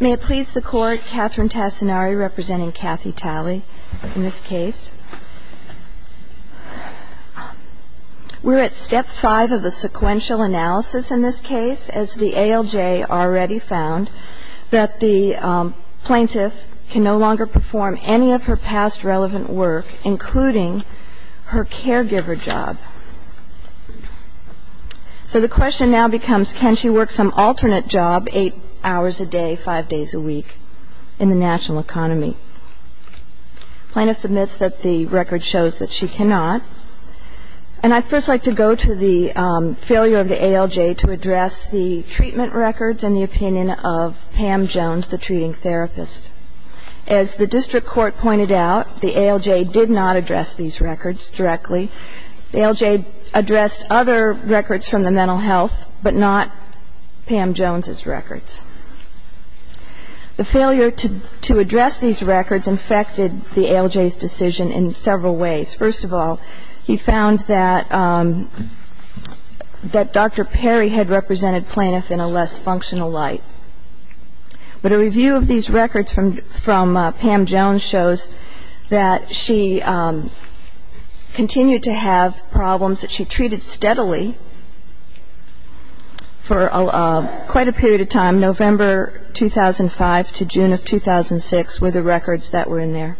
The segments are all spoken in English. May it please the Court, Catherine Tassinari representing Kathy Talley in this case. We're at step 5 of the sequential analysis in this case, as the ALJ already found that the plaintiff can no longer perform any of her past relevant work, including her caregiver job. So the question now becomes, can she work some alternate job 8 hours a day, 5 days a week in the national economy? The plaintiff submits that the record shows that she cannot. And I'd first like to go to the failure of the ALJ to address the treatment records and the opinion of Pam Jones, the treating therapist. As the district court pointed out, the ALJ did not address these records directly. The ALJ addressed other records from the mental health, but not Pam Jones's records. The failure to address these records infected the ALJ's decision in several ways. First of all, he found that Dr. Perry had represented plaintiff in a less functional light. But a review of these records from Pam Jones shows that she continued to have problems that she treated steadily for quite a period of time. November 2005 to June of 2006 were the records that were in there.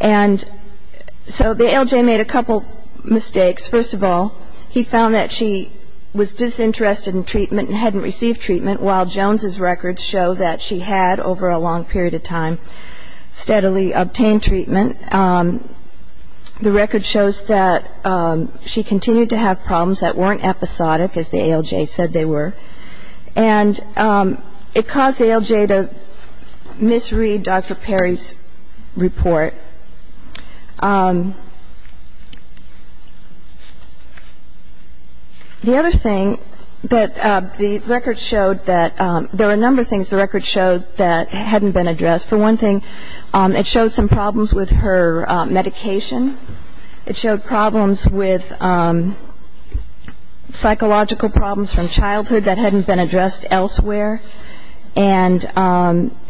And so the ALJ made a couple mistakes. First of all, he found that she was disinterested in treatment and hadn't received treatment, while Jones's records show that she had, over a long period of time, steadily obtained treatment. The record shows that she continued to have problems that weren't episodic, as the ALJ said they were. And it caused the ALJ to misread Dr. Perry's report. The other thing that the record showed that there were a number of things the record showed that hadn't been addressed. For one thing, it showed some problems with her medication. It showed problems with psychological problems from childhood that hadn't been addressed elsewhere. And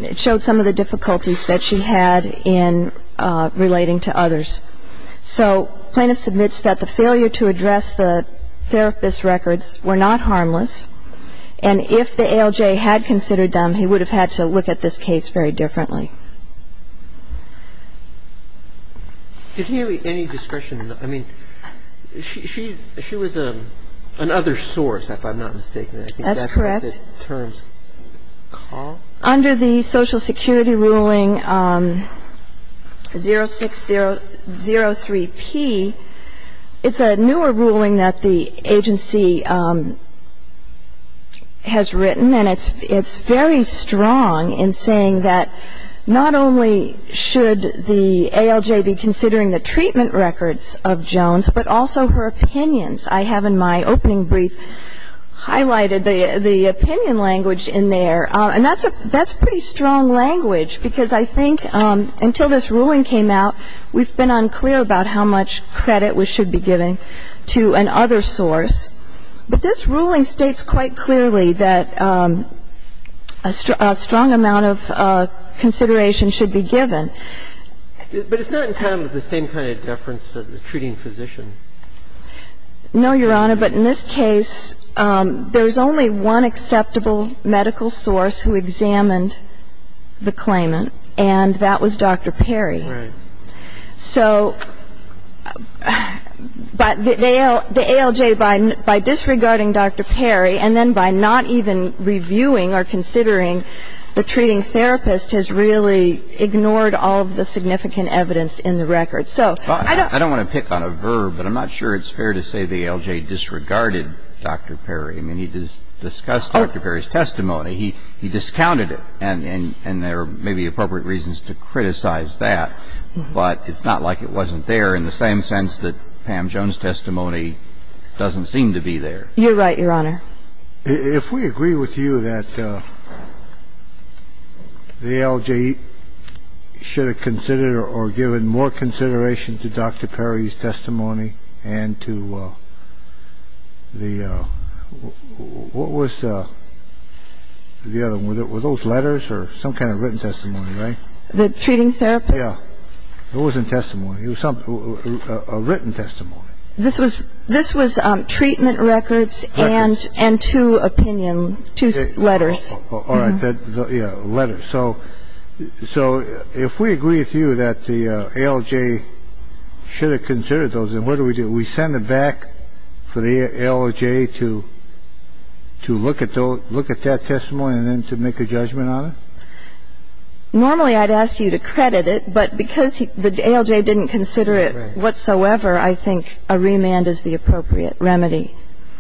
it showed some of the difficulties that she had in relating to others. So plaintiff submits that the failure to address the therapist's records were not harmless. And if the ALJ had considered them, he would have had to look at this case very differently. Did he have any discretion? I mean, she was an other source, if I'm not mistaken. That's correct. Under the Social Security ruling 0603P, it's a newer ruling that the agency has written, and it's very strong in saying that not only should the ALJ be considering the treatment records of Jones, but also her opinions. I have in my opening brief highlighted the opinion language in there, and that's a pretty strong language because I think until this ruling came out, we've been unclear about how much credit we should be giving to an other source. But this ruling states quite clearly that a strong amount of consideration should be given. But it's not in tandem with the same kind of deference of the treating physician. No, Your Honor. But in this case, there's only one acceptable medical source who examined the claimant, and that was Dr. Perry. Right. So the ALJ, by disregarding Dr. Perry and then by not even reviewing or considering the treating therapist, has really ignored all of the significant evidence in the records. So I don't I don't want to pick on a verb, but I'm not sure it's fair to say the ALJ disregarded Dr. Perry. I mean, he discussed Dr. Perry's testimony. He discounted it, and there may be appropriate reasons to criticize that. But it's not like it wasn't there in the same sense that Pam Jones' testimony doesn't seem to be there. You're right, Your Honor. If we agree with you that the ALJ should have considered or given more consideration to Dr. Perry's testimony and to the what was the other one? Were those letters or some kind of written testimony, right? The treating therapist? Yeah. It wasn't testimony. It was a written testimony. This was treatment records and two opinion, two letters. All right. Yeah, letters. So if we agree with you that the ALJ should have considered those, then what do we do? Do we send them back for the ALJ to look at that testimony and then to make a judgment on it? Normally, I'd ask you to credit it. But because the ALJ didn't consider it whatsoever, I think a remand is the appropriate remedy.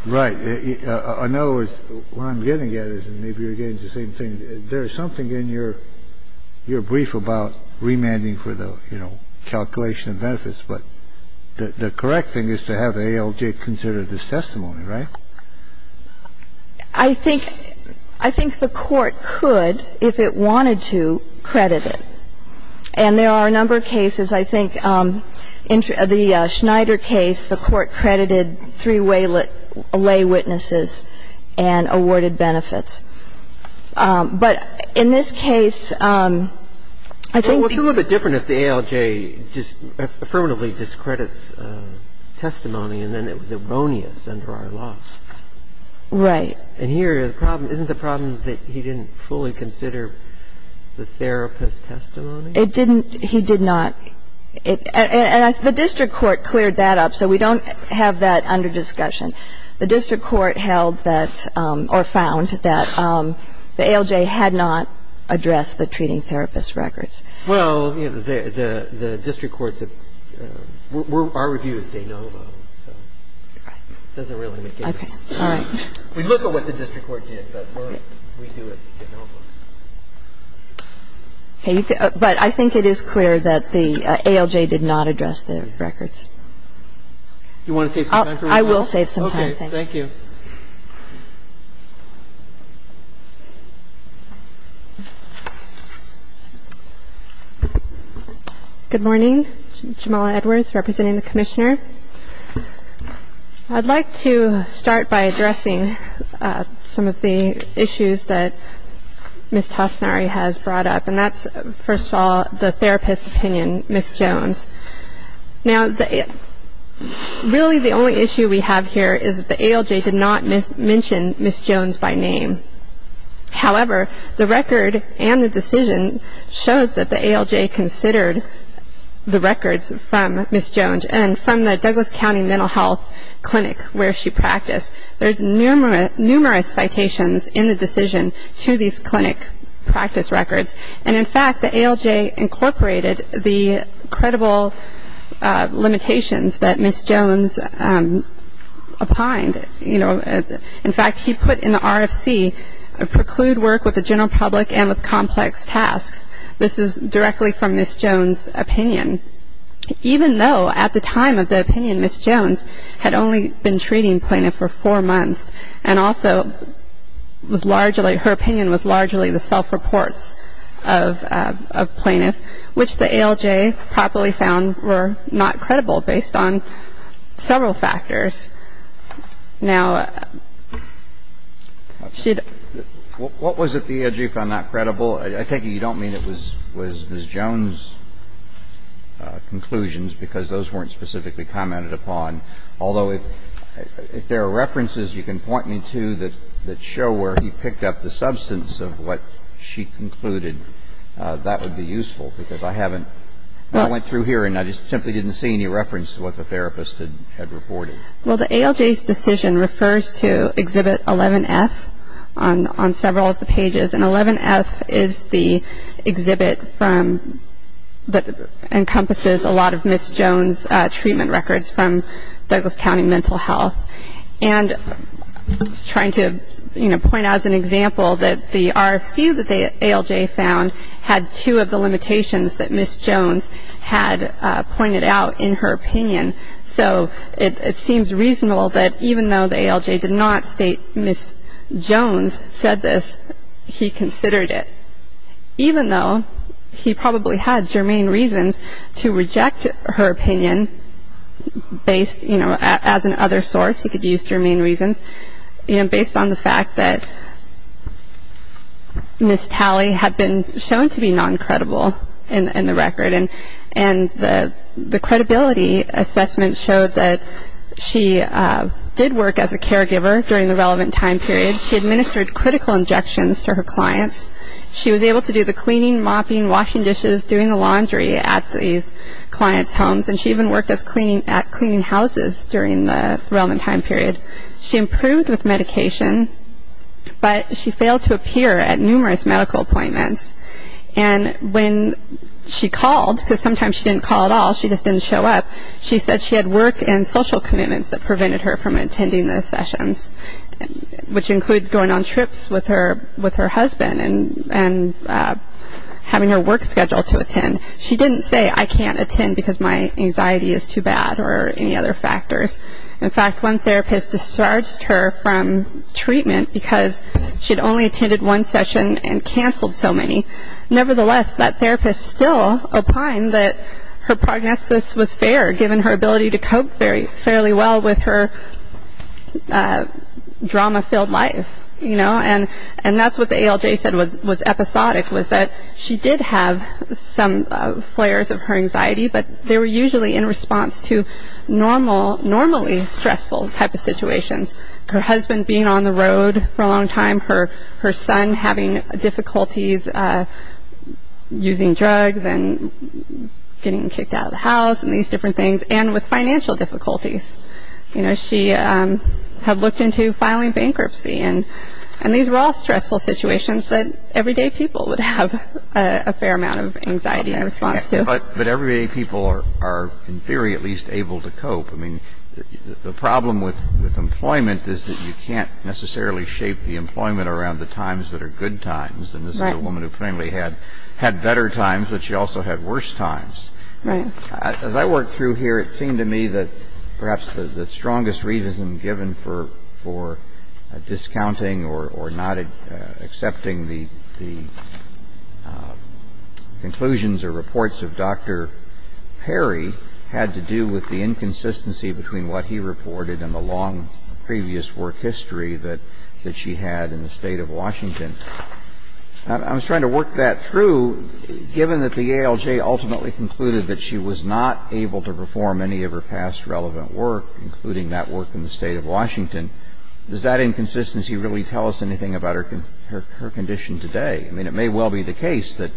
Right. In other words, what I'm getting at is, and maybe you're getting at the same thing, there is something in your brief about remanding for the, you know, calculation of benefits. But the correct thing is to have the ALJ consider this testimony, right? I think the Court could, if it wanted to, credit it. And there are a number of cases. I think in the Schneider case, the Court credited three laywitnesses and awarded benefits. But in this case, I think the ALJ should have considered it. But I think it's just a question of how does the ALJ view this testimony? Because it's misogynist. It's misogynist under our law. Right. And here, the problem isn't the problem that he didn't fully consider the therapist's testimony. It didn't. He did not. And the district court cleared that up. So we don't have that under discussion. The district court held that or found that the ALJ had not addressed the treating therapist records. Well, you know, the district court said our review is de novo, so it doesn't really make any sense. All right. We look at what the district court did, but we do it de novo. But I think it is clear that the ALJ did not address the records. Do you want to save some time for me? I will save some time. Okay. Thank you. Good morning. Jamala Edwards representing the commissioner. I'd like to start by addressing some of the issues that Ms. Tosinari has brought up, and that's, first of all, the therapist's opinion, Ms. Jones. Now, really the only issue we have here is that the ALJ did not mention Ms. Jones by name. However, the record and the decision shows that the ALJ considered the records from Ms. Jones and from the Douglas County Mental Health Clinic where she practiced. There's numerous citations in the decision to these clinic practice records. And, in fact, the ALJ incorporated the credible limitations that Ms. Jones opined. In fact, he put in the RFC, preclude work with the general public and with complex tasks. The ALJ did not mention Ms. Jones by name, even though at the time of the opinion, Ms. Jones had only been treating plaintiff for four months and also was largely, her opinion was largely the self-reports of plaintiff, which the ALJ probably found were not credible based on several factors. Now, should ---- What was it the ALJ found not credible? I take it you don't mean it was Ms. Jones' conclusions because those weren't specifically commented upon, although if there are references you can point me to that show where he picked up the substance of what she concluded, that would be useful because I haven't I went through here and I just simply didn't see any reference to what the therapist had reported. Well, the ALJ's decision refers to Exhibit 11F on several of the pages. And 11F is the exhibit that encompasses a lot of Ms. Jones' treatment records from Douglas County Mental Health. And I was trying to point out as an example that the RFC that the ALJ found had two of the limitations that Ms. Jones had pointed out in her opinion. So it seems reasonable that even though the ALJ did not state Ms. Jones said this, he considered it. Even though he probably had germane reasons to reject her opinion based, you know, as an other source, he could use germane reasons, you know, based on the fact that Ms. Talley had been shown to be non-credible in the record. And the credibility assessment showed that she did work as a caregiver during the relevant time period. She administered critical injections to her clients. She was able to do the cleaning, mopping, washing dishes, doing the laundry at these clients' homes. And she even worked at cleaning houses during the relevant time period. She improved with medication, but she failed to appear at numerous medical appointments. And when she called, because sometimes she didn't call at all, she just didn't show up, she said she had work and social commitments that prevented her from attending the sessions, which included going on trips with her husband and having her work scheduled to attend. She didn't say, I can't attend because my anxiety is too bad or any other factors. In fact, one therapist discharged her from treatment because she'd only attended one session and canceled so many. Nevertheless, that therapist still opined that her prognosis was fair, given her ability to cope fairly well with her drama-filled life, you know. And that's what the ALJ said was episodic, was that she did have some flares of her anxiety, but they were usually in response to normally stressful type of situations. Her husband being on the road for a long time, her son having difficulties using drugs and getting kicked out of the house and these different things, and with financial difficulties. You know, she had looked into filing bankruptcy. And these were all stressful situations that everyday people would have a fair amount of anxiety in response to. But everyday people are, in theory, at least able to cope. I mean, the problem with employment is that you can't necessarily shape the employment around the times that are good times. And this is a woman who plainly had better times, but she also had worse times. As I work through here, it seemed to me that perhaps the strongest reason given for discounting or not accepting the conclusions or reports of Dr. Perry had to do with the inconsistency between what he reported and the long previous work history that she had in the state of Washington. I was trying to work that through. Given that the ALJ ultimately concluded that she was not able to perform any of her past relevant work, including that work in the state of Washington, does that inconsistency really tell us anything about her condition today? I mean, it may well be the case that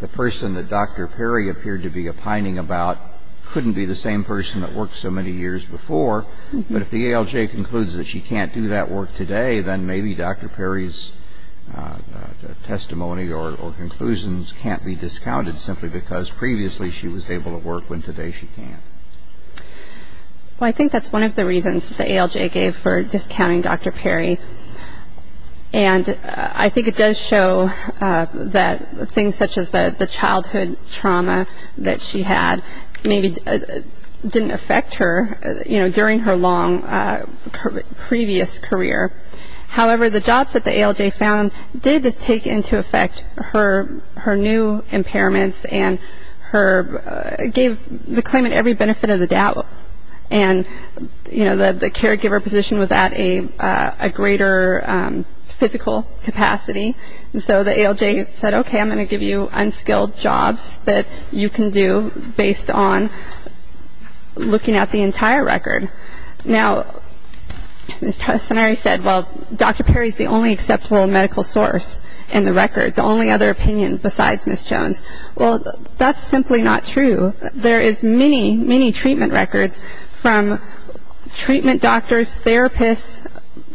the person that Dr. Perry appeared to be opining about couldn't be the same person that worked so many years before. But if the ALJ concludes that she can't do that work today, then maybe Dr. Perry's testimony or conclusions can't be discounted, simply because previously she was able to work when today she can't. Well, I think that's one of the reasons the ALJ gave for discounting Dr. Perry. And I think it does show that things such as the childhood trauma that she had maybe didn't affect her, you know, during her long previous career. However, the jobs that the ALJ found did take into effect her new impairments and gave the claimant every benefit of the doubt. And, you know, the caregiver position was at a greater physical capacity. And so the ALJ said, okay, I'm going to give you unskilled jobs that you can do based on looking at the entire record. Now, Ms. Tessonari said, well, Dr. Perry's the only acceptable medical source in the record, the only other opinion besides Ms. Jones. Well, that's simply not true. There is many, many treatment records from treatment doctors, therapists,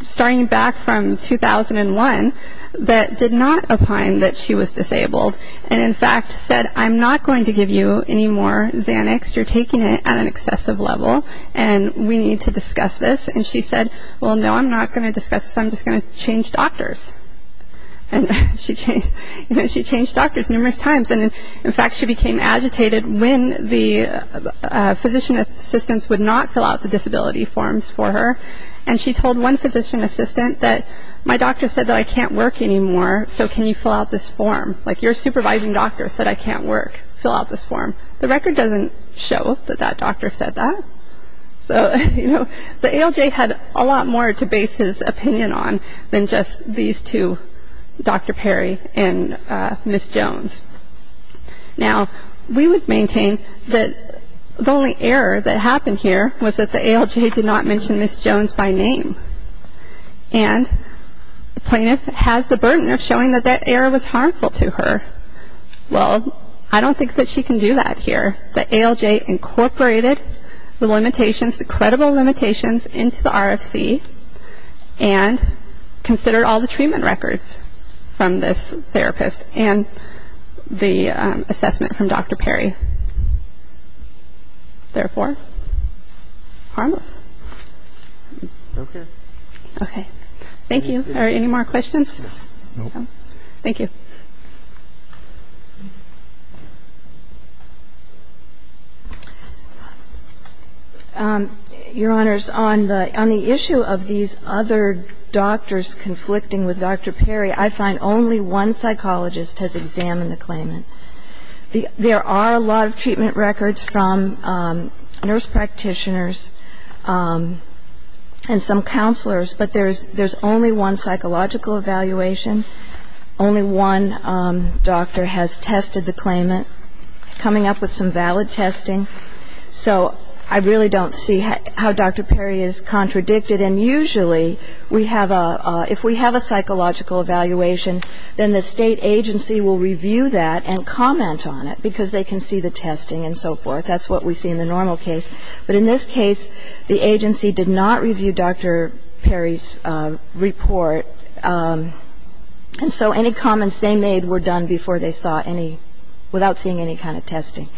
starting back from 2001 that did not opine that she was disabled and, in fact, said I'm not going to give you any more Xanax. You're taking it at an excessive level, and we need to discuss this. And she said, well, no, I'm not going to discuss this. I'm just going to change doctors. And she changed doctors numerous times. And, in fact, she became agitated when the physician assistants would not fill out the disability forms for her. And she told one physician assistant that my doctor said that I can't work anymore, so can you fill out this form? Like your supervising doctor said I can't work, fill out this form. The record doesn't show that that doctor said that. So, you know, the ALJ had a lot more to base his opinion on than just these two, Dr. Perry and Ms. Jones. Now, we would maintain that the only error that happened here was that the ALJ did not mention Ms. Jones by name. And the plaintiff has the burden of showing that that error was harmful to her. Well, I don't think that she can do that here. The ALJ incorporated the limitations, the credible limitations, into the RFC and considered all the treatment records from this therapist and the assessment from Dr. Perry. Therefore, harmless. Okay. Okay. Thank you. Are there any more questions? No. Thank you. Your Honors, on the issue of these other doctors conflicting with Dr. Perry, I find only one psychologist has examined the claimant. There are a lot of treatment records from nurse practitioners and some counselors, but there's only one psychological evaluation. Only one doctor has tested the claimant. Coming up with some valid testing. So I really don't see how Dr. Perry is contradicted. And usually we have a ‑‑ if we have a psychological evaluation, then the state agency will review that and comment on it because they can see the testing and so forth. That's what we see in the normal case. But in this case, the agency did not review Dr. Perry's report. And so any comments they made were done before they saw any ‑‑ without seeing any kind of testing.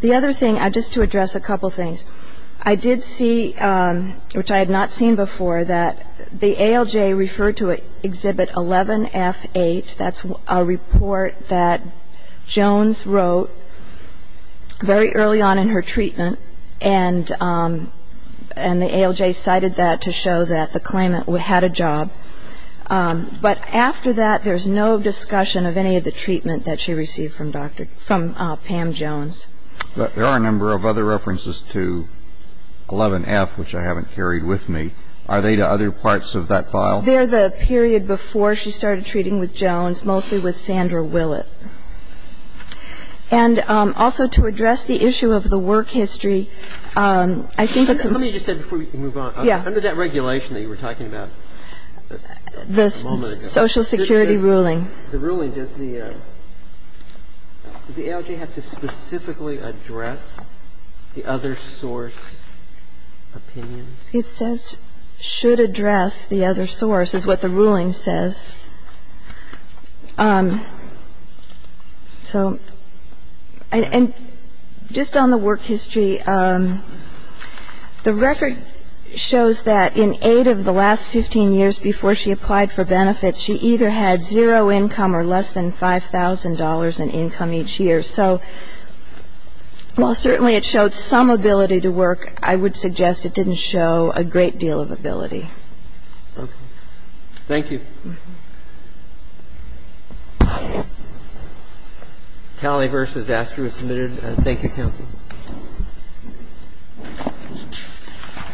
The other thing, just to address a couple things, I did see, which I had not seen before, that the ALJ referred to Exhibit 11F8. That's a report that Jones wrote very early on in her treatment, and the ALJ cited that to show that the claimant had a job. But after that, there's no discussion of any of the treatment that she received from Pam Jones. But there are a number of other references to 11F, which I haven't carried with me. Are they to other parts of that file? They're the period before she started treating with Jones, mostly with Sandra Willett. And also to address the issue of the work history, I think it's a ‑‑ Let me just say before we move on. Yeah. Under that regulation that you were talking about a moment ago. The social security ruling. The ruling, does the ALJ have to specifically address the other source opinions? It says, should address the other source, is what the ruling says. So, and just on the work history, the record shows that in eight of the last 15 years before she applied for benefits, she either had zero income or less than $5,000 in income each year. So while certainly it showed some ability to work, I would suggest it didn't show a great deal of ability. Thank you. Tally versus Astruz submitted. Thank you, counsel.